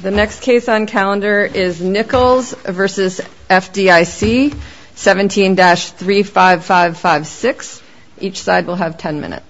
The next case on calendar is Nichols v. FDIC 17-35556. Each side will have 10 minutes.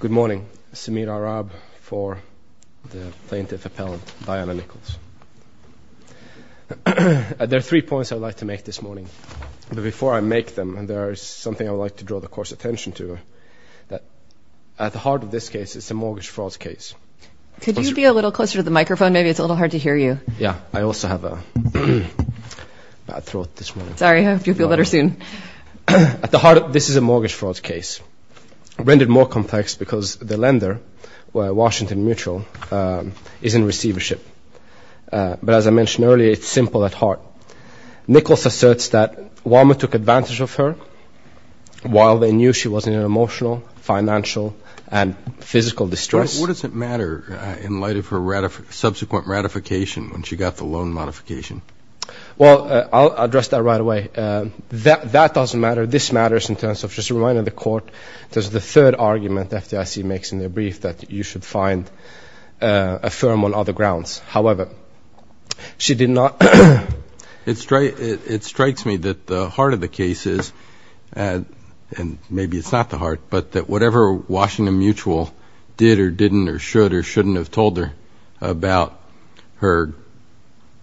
Good morning. Samir Arab for the Plaintiff Appellant Diana Nichols. There are three points I would like to make this morning. But before I make them, there is something I would like to draw the Court's attention to. At the heart of this case, it's a mortgage fraud case. Could you be a little closer to the microphone? Maybe it's a little hard to hear you. Yeah. I also have a bad throat this morning. Sorry. I hope you'll feel better soon. At the heart, this is a mortgage fraud case. Rendered more complex because the lender, Washington Mutual, is in receivership. But as I mentioned earlier, it's simple at heart. Nichols asserts that Walmart took advantage of her while they knew she was in emotional, financial, and physical distress. What does it matter in light of her subsequent ratification when she got the loan modification? Well, I'll address that right away. That doesn't matter. This matters in terms of just reminding the Court, this is the third argument FDIC makes in their brief, that you should find a firm on other grounds. However, she did not. It strikes me that the heart of the case is, and maybe it's not the heart, but that whatever Washington Mutual did or didn't or should or shouldn't have told her about her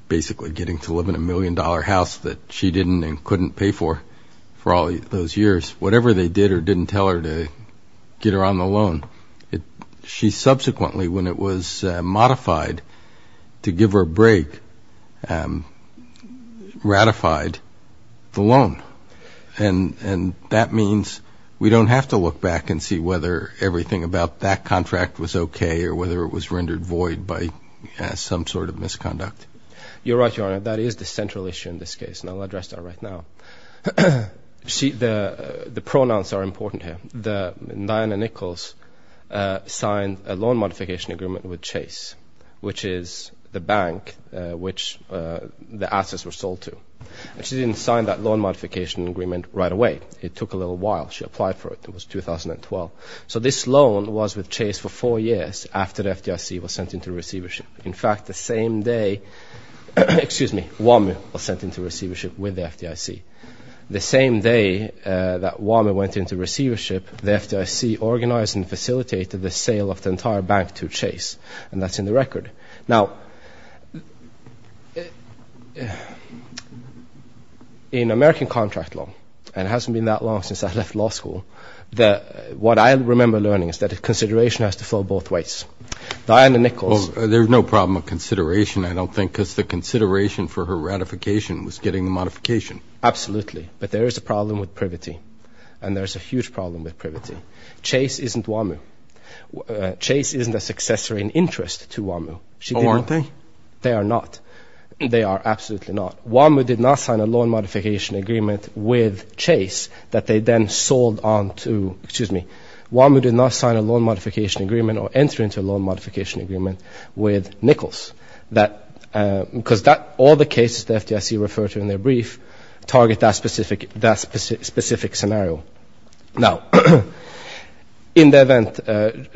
basically getting to live in a million-dollar house that she didn't and couldn't pay for all those years, whatever they did or didn't tell her to get her on the loan, she subsequently, when it was modified to give her a break, ratified the loan. And that means we don't have to look back and see whether everything about that contract was okay or whether it was rendered void by some sort of misconduct. You're right, Your Honor. That is the central issue in this case, and I'll address that right now. See, the pronouns are important here. Diana Nichols signed a loan modification agreement with Chase, which is the bank which the assets were sold to. And she didn't sign that loan and didn't apply for it. It was 2012. So this loan was with Chase for four years after the FDIC was sent into receivership. In fact, the same day, excuse me, WAMU was sent into receivership with the FDIC. The same day that WAMU went into receivership, the FDIC organized and facilitated the sale of the entire bank to Chase, and that's in the record. Now, in American contract law, and it hasn't been that long since I left law school, what I remember learning is that consideration has to flow both ways. Diana Nichols... Well, there's no problem of consideration, I don't think, because the consideration for her ratification was getting the modification. Absolutely. But there is a problem with privity, and there's a huge problem with privity. Chase isn't WAMU. Chase isn't a successor in interest to WAMU. Oh, aren't they? They are not. They are absolutely not. WAMU did not sign a loan modification agreement with Chase that they then sold on to, excuse me, WAMU did not sign a loan modification agreement or enter into a loan modification agreement with Nichols, because all the cases the FDIC referred to in their brief target that specific scenario. Now, in the event,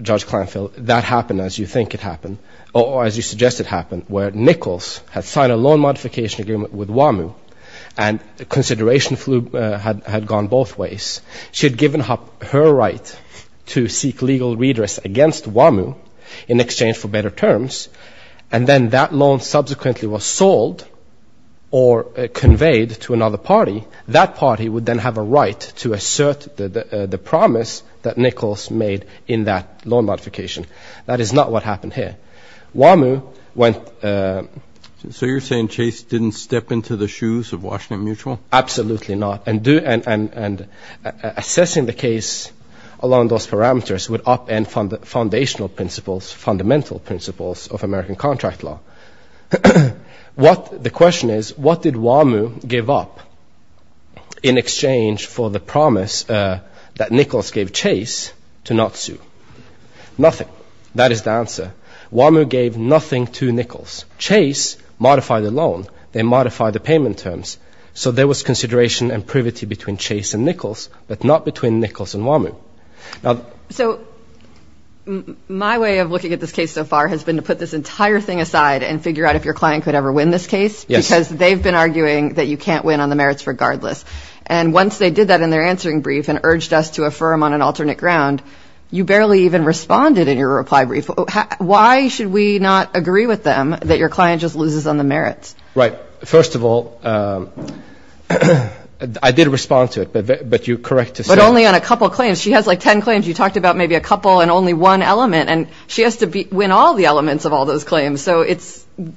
Judge Clenfield, that happened as you think it happened, or as you suggest it happened, where Nichols had signed a loan modification agreement with WAMU, and consideration had gone both ways. She had given up her right to seek legal redress against WAMU in exchange for better terms, and then that loan subsequently was sold or conveyed to another party. That party would then have a right to assert the promise that Nichols made in that loan modification. That is not what happened here. WAMU went... So you're saying Chase didn't step into the shoes of Washington Mutual? Absolutely not. And assessing the case along those parameters would upend foundational principles, fundamental principles of American contract law. Now, the question is, what did WAMU give up in exchange for the promise that Nichols gave Chase to not sue? Nothing. That is the answer. WAMU gave nothing to Nichols. Chase modified the loan. They modified the payment terms. So there was consideration and privity between Chase and Nichols, but not between Nichols and WAMU. So my way of looking at this case so far has been to put this entire thing aside and figure out if your client could ever win this case, because they've been arguing that you can't win on the merits regardless. And once they did that in their answering brief and urged us to affirm on an alternate ground, you barely even responded in your reply brief. Why should we not agree with them that your client just loses on the merits? Right. First of all, I did respond to it, but you're correct to say... You talked about maybe a couple and only one element, and she has to win all the elements of all those claims. So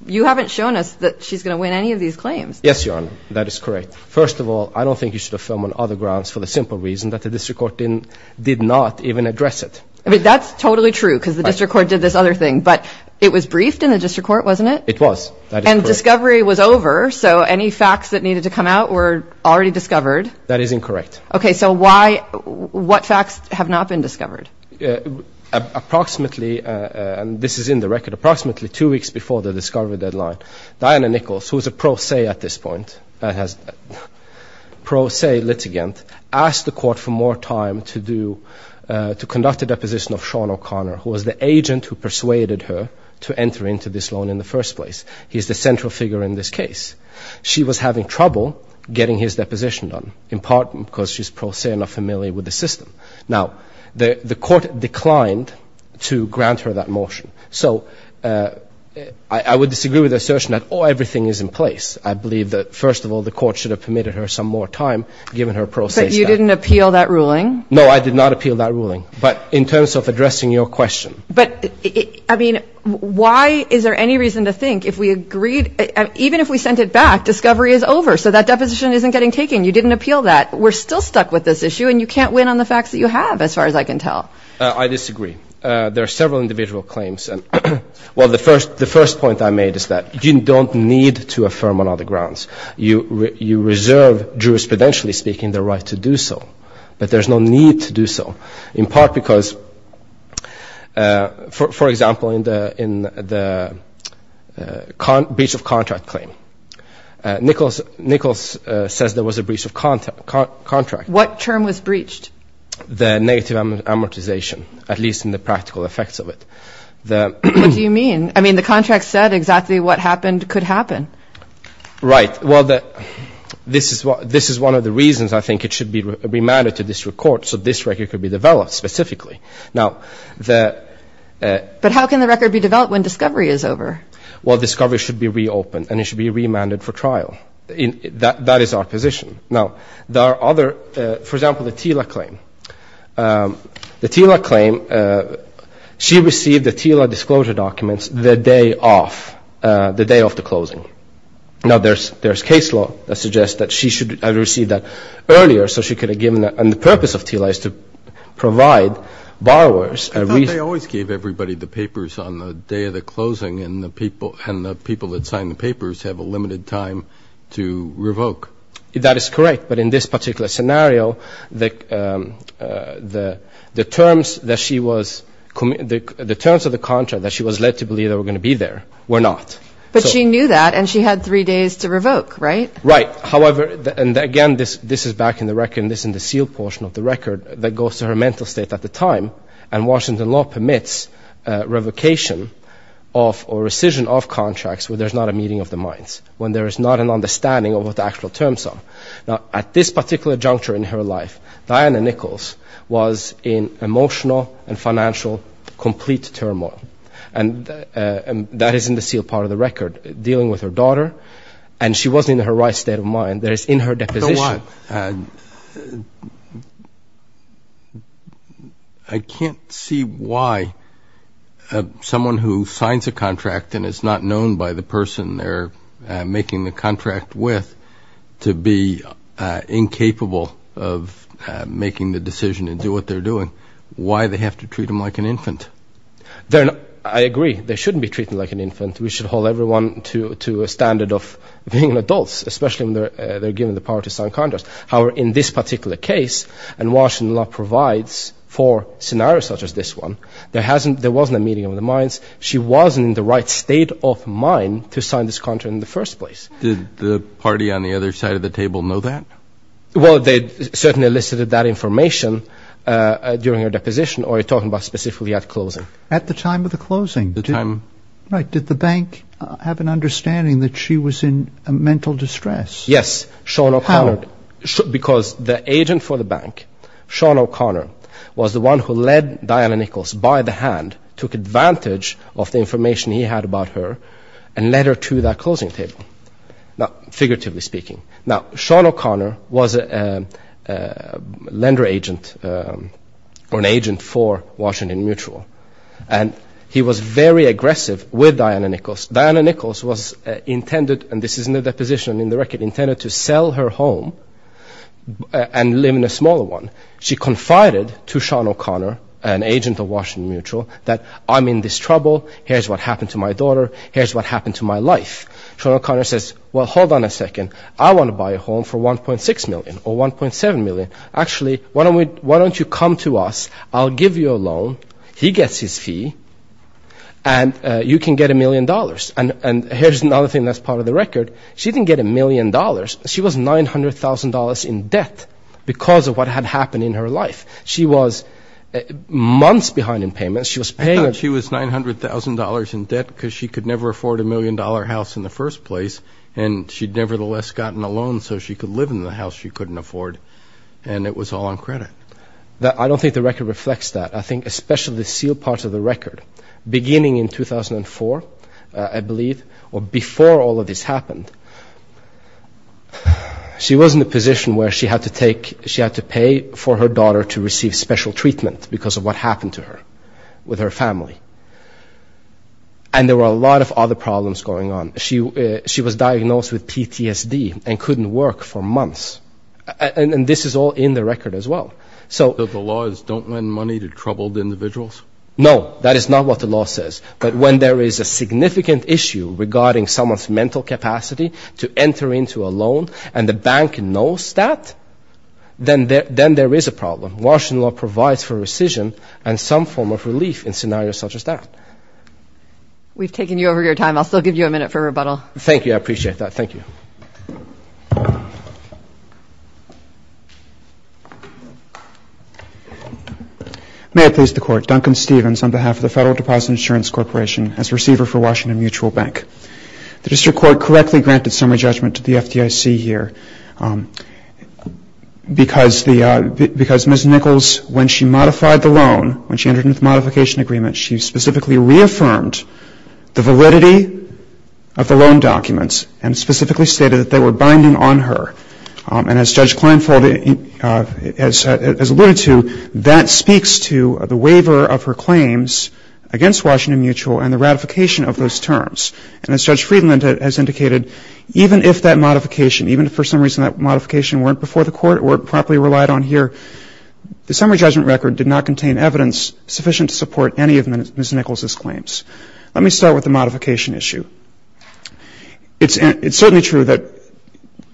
you haven't shown us that she's going to win any of these claims. Yes, Your Honor. That is correct. First of all, I don't think you should affirm on other grounds for the simple reason that the district court did not even address it. That's totally true, because the district court did this other thing. But it was briefed in the district court, wasn't it? It was. And discovery was over, so any facts that needed to come out were already discovered. That is incorrect. Okay. So what facts have not been discovered? Approximately, and this is in the record, approximately two weeks before the discovery deadline, Diana Nichols, who's a pro se at this point, pro se litigant, asked the court for more time to conduct a deposition of Sean O'Connor, who was the agent who persuaded her to enter into this loan in the first place. He's the central figure in this case. She was having trouble getting his deposition done, in part because she's pro se and not familiar with the system. Now, the court declined to grant her that motion. So I would disagree with the assertion that, oh, everything is in place. I believe that, first of all, the court should have permitted her some more time, given her pro se status. But you didn't appeal that ruling? No, I did not appeal that ruling. But in terms of addressing your question. But, I mean, why is there any reason to think, if we agreed, even if we sent it back, discovery is over. So that deposition isn't getting taken. You didn't appeal that. We're still stuck with this issue, and you can't win on the facts that you have, as far as I can tell. I disagree. There are several individual claims. Well, the first point I made is that you don't need to affirm on other grounds. You reserve, jurisprudentially speaking, the right to do so. But there's no need to do so. In part because, for example, in the breach of contract claim, Nichols says there was a breach of contract. What term was breached? The negative amortization, at least in the practical effects of it. What do you mean? I mean, the contract said exactly what happened could happen. Right. Well, this is one of the reasons I think it should be remanded to district court so this record could be developed specifically. But how can the record be developed when discovery is over? Well, discovery should be reopened, and it should be remanded for trial. That is our position. Now, there are other, for example, the TILA claim. The TILA claim, she received the TILA disclosure documents the day of the closing. Now, there's case law that suggests that she should have received that earlier so she could have given that. And the purpose of TILA is to provide borrowers a reason. I thought they always gave everybody the papers on the day of the closing, and the people that signed the papers have a limited time to revoke. That is correct. But in this particular scenario, the terms of the contract that she was led to believe that were going to be there were not. But she knew that, and she had three days to revoke, right? Right. However, and again, this is back in the seal portion of the record that goes to her mental state at the time. And Washington law permits revocation of or rescission of contracts where there's not a meeting of the minds, when there is not an understanding of what the actual terms are. Now, at this particular juncture in her life, Diana Nichols was in emotional and financial complete turmoil. And that is in the seal part of the record, dealing with her daughter, and she wasn't in her right state of mind. That is in her deposition. I can't see why someone who signs a contract and is not known by the person they're incapable of making the decision to do what they're doing, why they have to treat them like an infant. I agree, they shouldn't be treated like an infant. We should hold everyone to a standard of being adults, especially when they're given the power to sign contracts. However, in this particular case, and Washington law provides for scenarios such as this one, there wasn't a meeting of the minds. She wasn't in the right state of mind to sign this contract in the first place. Did the party on the other side of the table know that? Well, they certainly elicited that information during her deposition, or are you talking about specifically at closing? At the time of the closing. Right. Did the bank have an understanding that she was in mental distress? Yes, because the agent for the bank, Sean O'Connor, was the one who led Diana Nichols by the hand, took advantage of the information he had about her, and led her to that closing table. Figuratively speaking. Now, Sean O'Connor was a lender agent, or an agent for Washington Mutual, and he was very aggressive with Diana Nichols. Diana Nichols was intended, and this is in the deposition in the record, intended to sell her home and live in a smaller one. She confided to Sean O'Connor, an agent of Washington Mutual, that I'm in this trouble, here's what happened to my daughter, here's what happened to my life. Sean O'Connor says, well, hold on a second, I want to buy a home for 1.6 million, or 1.7 million. Actually, why don't you come to us, I'll give you a loan, he gets his fee, and you can get a million dollars. Here's another thing that's part of the record, she didn't get a million dollars, she was $900,000 in debt because of what had happened in her life. She was months behind in payments. I thought she was $900,000 in debt because she could never afford a million dollar house in the first place, and she'd nevertheless gotten a loan so she could live in the house she couldn't afford, and it was all on credit. I don't think the record reflects that. I think, especially the sealed parts of the record, beginning in 2004, I believe, or before all of this happened, she was in a position where she had to pay for her daughter to receive special treatment because of what happened to her, with her family. And there were a lot of other problems going on. She was diagnosed with PTSD and couldn't work for months. And this is all in the record as well. So the laws don't lend money to troubled individuals? No, that is not what the law says. But when there is a significant issue regarding someone's mental capacity to enter into a loan, and the bank knows that, then there is a problem. Washington law provides for rescission and some form of relief in scenarios such as that. We've taken you over your time. I'll still give you a minute for rebuttal. Thank you. I appreciate that. Thank you. May I please the court. Duncan Stevens on behalf of the Federal Deposit Insurance Corporation as receiver for Washington Mutual Bank. The district court correctly granted summary judgment to the FDIC here because Ms. Nichols, when she modified the loan, when she entered into the modification agreement, she specifically reaffirmed the validity of the loan documents and specifically stated that they were binding on her. And as Judge Kleinfeld has alluded to, that speaks to the waiver of her claims against Washington Mutual and the ratification of those terms. And as Judge Kleinfeld has alluded to, the summary judgment record did not contain evidence sufficient to support any of Ms. Nichols' claims. Let me start with the modification issue. It's certainly true that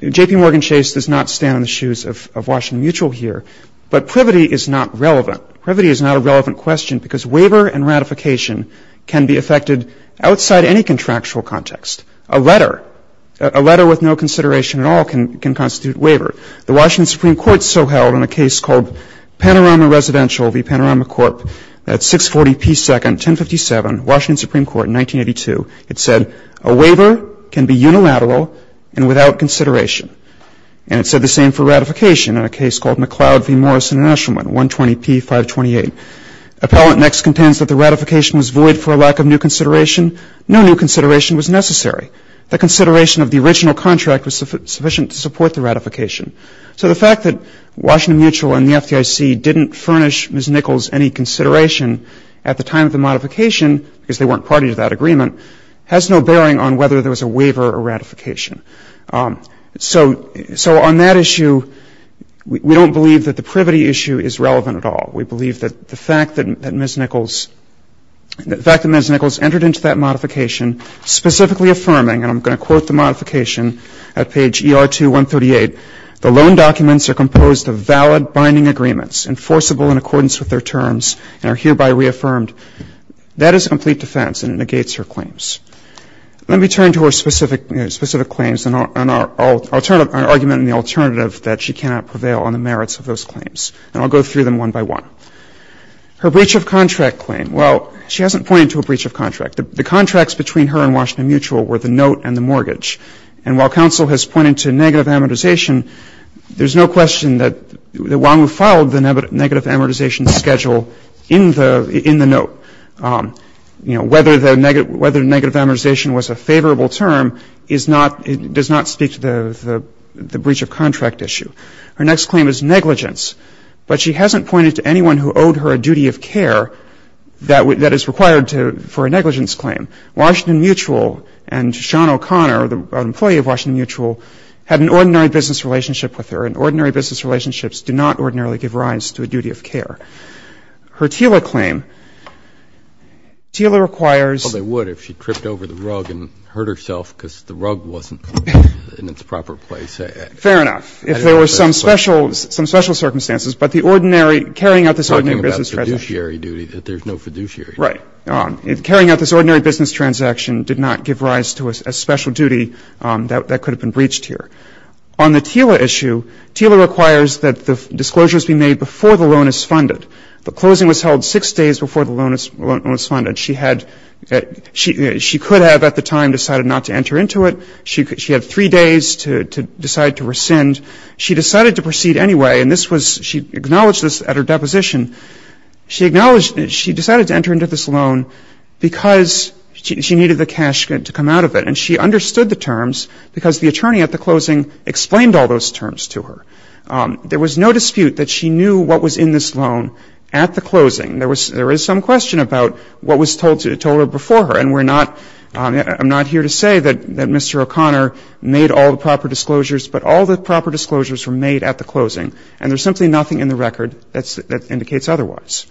JPMorgan Chase does not stand in the shoes of Washington Mutual here, but privity is not relevant. Privity is not a relevant question because waiver and ratification can be affected outside any contractual context. A letter, a letter with no consideration at all can constitute waiver. The Washington Supreme Court so held in a case called Panorama Residential v. Panorama Corp. at 640 P. 2nd, 1057, Washington Supreme Court in 1982. It said a waiver can be unilateral and without consideration. And it said the same for ratification in a case called McLeod v. Morris International, 120 P. 528. Appellant next contends that the ratification was void for a lack of new consideration. No new consideration was necessary. The consideration of the original contract was sufficient to support the ratification. So the fact that Washington Mutual and the FDIC didn't furnish Ms. Nichols any consideration at the time of the modification, because they weren't party to that agreement, has no bearing on whether there was a waiver or ratification. So on that issue, we don't believe that the privity issue is relevant at all. We believe that the fact that Ms. Nichols entered into that modification specifically affirming, and I'm going to quote the modification at page ER2-138, the loan documents are composed of valid binding agreements enforceable in accordance with their terms and are hereby reaffirmed. That is a complete defense and it negates her claims. Let me turn to her specific claims, an argument in the alternative that she cannot prevail on the merits of those claims. And I'll go through them one by one. Her breach of contract claim, well, she hasn't pointed to a breach of contract. The contracts between her and Washington Mutual were the note and the mortgage. And while counsel has pointed to negative amortization, there's no question that while we filed the negative amortization schedule in the note, you know, whether the negative amortization was a favorable term does not speak to the breach of contract issue. Her next claim is negligence, but she hasn't pointed to anyone who owed her a duty of care that is required for a negligence claim. Washington Mutual and Sean O'Connor, an employee of Washington Mutual, had an ordinary business relationship with her, and ordinary business relationships do not ordinarily give rise to a duty of care. Her TILA claim, TILA requires that the disclosure has been made before the loan is funded. The closing was held six days before the loan was funded. She had, she could have at the time decided not to enter into it. She had three days to decide to rescind. She decided to proceed anyway, and this was she acknowledged this at her deposition. She acknowledged, she decided to enter into this loan because she needed the cash to come out of it. And she understood the terms because the attorney at the closing explained all those terms to her. There was no dispute that she knew what was in this loan at the closing. There was some question about what was told to her before her, and we're not, I'm not here to say that Mr. O'Connor made all the proper disclosures, but all the proper disclosures were made at the closing, and there's simply nothing in the record that indicates otherwise.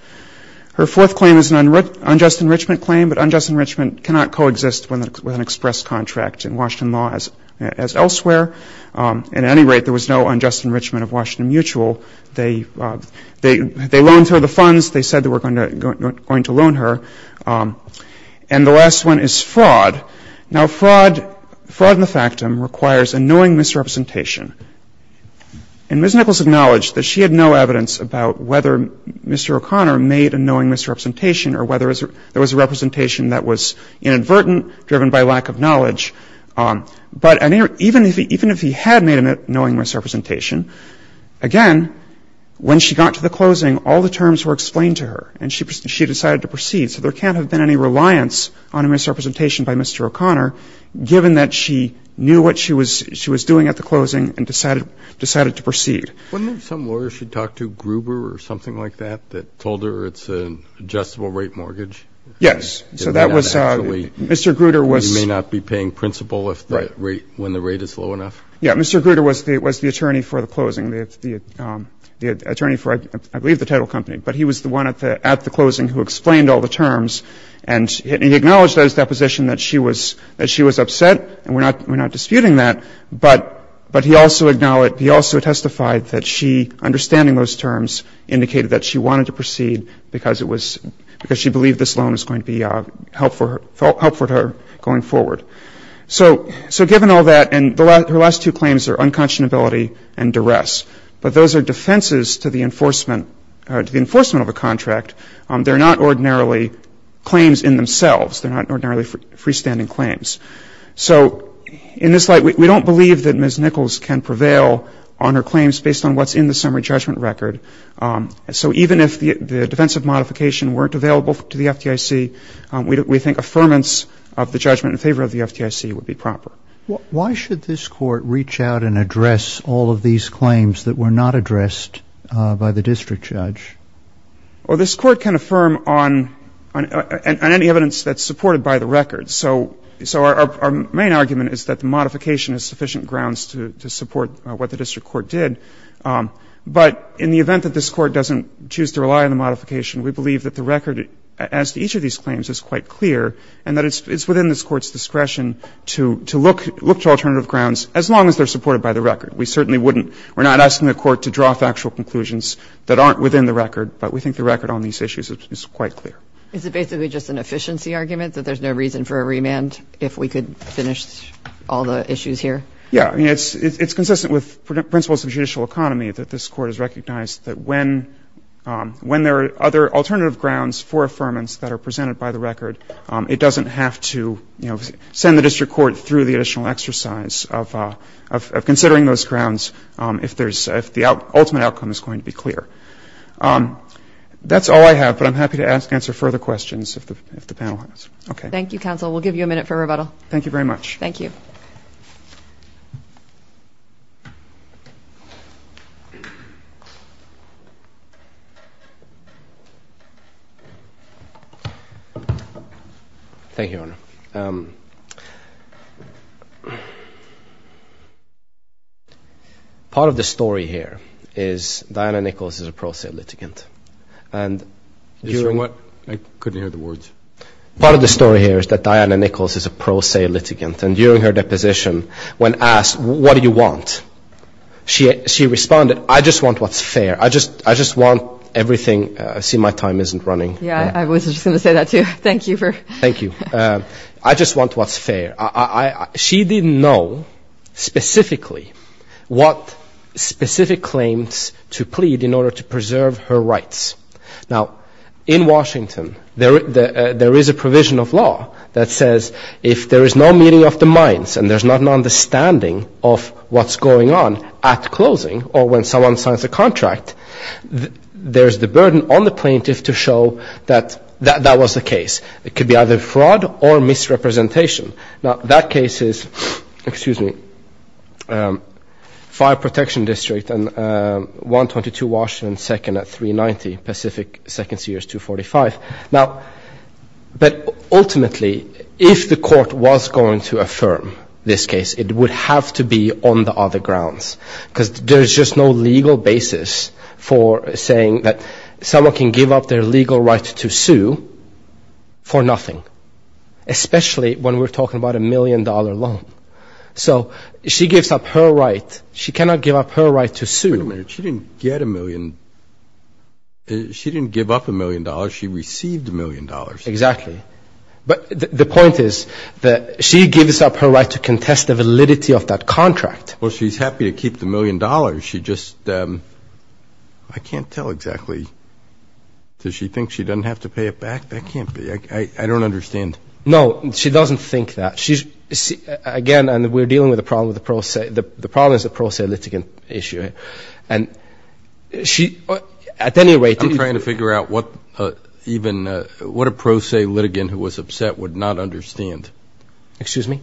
Her fourth claim is an unjust enrichment claim, but unjust enrichment cannot coexist with an express contract in Washington law as elsewhere. At any rate, there was no unjust enrichment of Washington Mutual. They loaned her the funds. They said they were going to loan her. And the last one is fraud. Now, fraud, fraud in the factum requires a knowing misrepresentation. And Ms. Nichols acknowledged that she had no evidence about whether Mr. O'Connor made a knowing misrepresentation or whether there was a representation that was inadvertent driven by lack of knowledge. But even if he had made a knowing misrepresentation, again, when she got to the closing, all the terms were explained to her, and she decided to proceed. So there can't have been any reliance on a misrepresentation by Mr. O'Connor, given that she knew what she was doing at the closing and decided to proceed. Wouldn't there be some lawyer she talked to, Gruber or something like that, that told her it's an adjustable rate mortgage? Yes. So that was Mr. Gruber was You may not be paying principal when the rate is low enough? Yeah. Mr. Gruber was the attorney for the closing, the attorney for, I believe, the title company. But he was the one at the closing who explained all the terms. And he acknowledged at his deposition that she was upset, and we're not disputing that. But he also testified that she, understanding those terms, indicated that she wanted to proceed because it was she believed this loan was going to be helpful to her going forward. So given all that, and her last two claims are unconscionability and duress. But those are defenses to the enforcement of a contract. They're not ordinarily claims in themselves. They're not ordinarily freestanding claims. So in this light, we don't believe that Ms. Nichols can prevail on her claims based on what's in the summary judgment record. So even if the defensive modification weren't available to the FDIC, we think affirmance of the judgment in favor of the FDIC would be proper. Why should this court reach out and address all of these claims that were not addressed by the district judge? This court can affirm on any evidence that's supported by the record. So our main argument is that the modification is sufficient grounds to support what the district court did. But in the event that this court doesn't choose to rely on the modification, we believe that the record as to each of these claims is quite clear, and that it's within this court's discretion to look to alternative grounds as long as they're supported by the record. We certainly wouldn't. We're not asking the court to draw factual conclusions that aren't within the record, but we think the record on these issues is quite clear. Is it basically just an efficiency argument, that there's no reason for a remand if we could finish all the issues here? Yeah. It's consistent with principles of judicial economy that this court has recognized that when there are other alternative grounds for affirmance that are presented by the record, it doesn't have to send the district court through the additional exercise of considering those grounds if the ultimate outcome is going to be clear. That's all I have, but I'm happy to answer further questions if the panel has. Thank you, counsel. We'll give you a minute for rebuttal. Thank you very much. Thank you, Your Honor. Part of the story here is Diana Nichols is a pro se litigant, and during- I couldn't hear the words. Part of the story here is that Diana Nichols is a pro se litigant, and during her deposition, when asked, what do you want? She responded, I just want what's fair. I just want everything- I see my time isn't running. Yeah, I was just going to say that, too. Thank you for- Thank you. I just want what's fair. She didn't know specifically what specific claims to plead in order to preserve her rights. Now, in Washington, there is a provision of law that says if there is no meeting of the minds and there's not an understanding of what's going on at closing or when someone signs a contract, there's the burden on the plaintiff to show that that was the case. It could be either fraud or misrepresentation. Now, that case is- excuse me- Fire Protection District and 122 Washington 2nd at 390 Pacific 2nd specifically, if the court was going to affirm this case, it would have to be on the other grounds because there's just no legal basis for saying that someone can give up their legal right to sue for nothing, especially when we're talking about a million dollar loan. She gives up her right. She cannot give up her right to sue. Wait a minute. She didn't get a million. She didn't give up a million dollars. She received a million dollars. Exactly. But the point is that she gives up her right to contest the validity of that contract. Well, she's happy to keep the million dollars. She just- I can't tell exactly. Does she think she doesn't have to pay it back? That can't be. I don't understand. No. She doesn't think that. She's- again, and we're dealing with a problem with the pro se- the problem is the pro se litigant issue. And she- at any rate- I'm trying to figure out what a pro se litigant who was upset would not understand. Excuse me?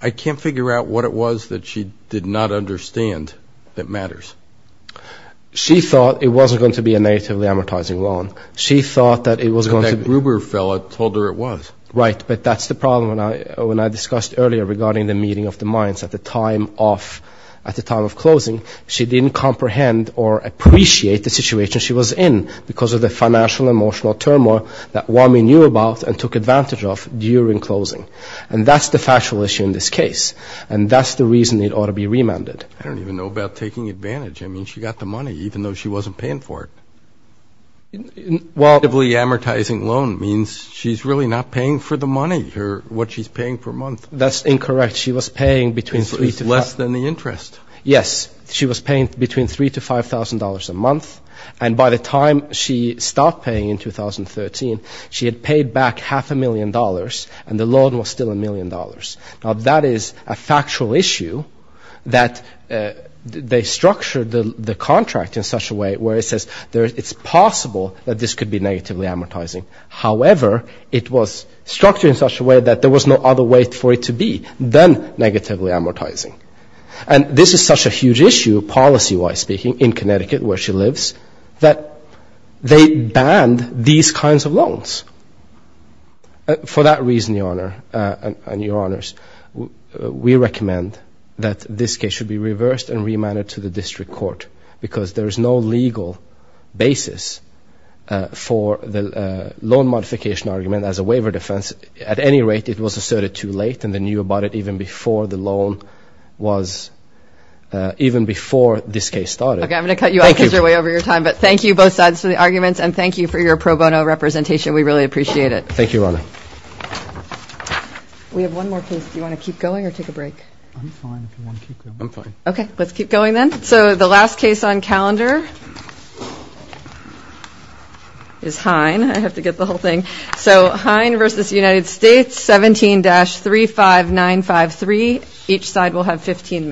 I can't figure out what it was that she did not understand that matters. She thought it wasn't going to be a negatively amortizing loan. She thought that it was going to be- That Gruber fellow told her it was. Right. But that's the problem. When I discussed earlier regarding the meeting of the minds at the time of- at the time of closing, she didn't comprehend or appreciate the situation she was in because of the financial and emotional turmoil that WAMI knew about and took advantage of during closing. And that's the factual issue in this case. And that's the reason it ought to be remanded. I don't even know about taking advantage. I mean, she got the money even though she wasn't paying for it. Well- A negatively amortizing loan means she's really not paying for the money or what she's paying per month. That's incorrect. She was paying between three to- It's less than the interest. Yes. She was paying between three to five thousand dollars a month. And by the time she stopped paying in 2013, she had paid back half a million dollars and the loan was still a million dollars. Now that is a factual issue that they structured the contract in such a way where it says it's possible that this could be negatively amortizing. However, it was structured in such a way that there was no other way for it to be than negatively amortizing. And this is such a huge issue, policy-wise speaking, in Connecticut where she lives, that they banned these kinds of loans. For that reason, Your Honor, and Your Honors, we recommend that this case should be reversed and remanded to the district court because there is no legal basis for the loan modification argument as a waiver defense. At any rate, it was asserted too late and they knew about it even before the loan was- even before this case started. Okay, I'm going to cut you off because you're way over your time, but thank you both sides for the arguments and thank you for your pro bono representation. We really appreciate it. Thank you, Your Honor. We have one more case. Do you want to keep going or take a break? I'm fine if you want to keep going. Okay, let's keep going then. So the last case on calendar is Hine. I have to get the whole thing. So, Hine v. United States, 17-35953. Each side will have 15 minutes.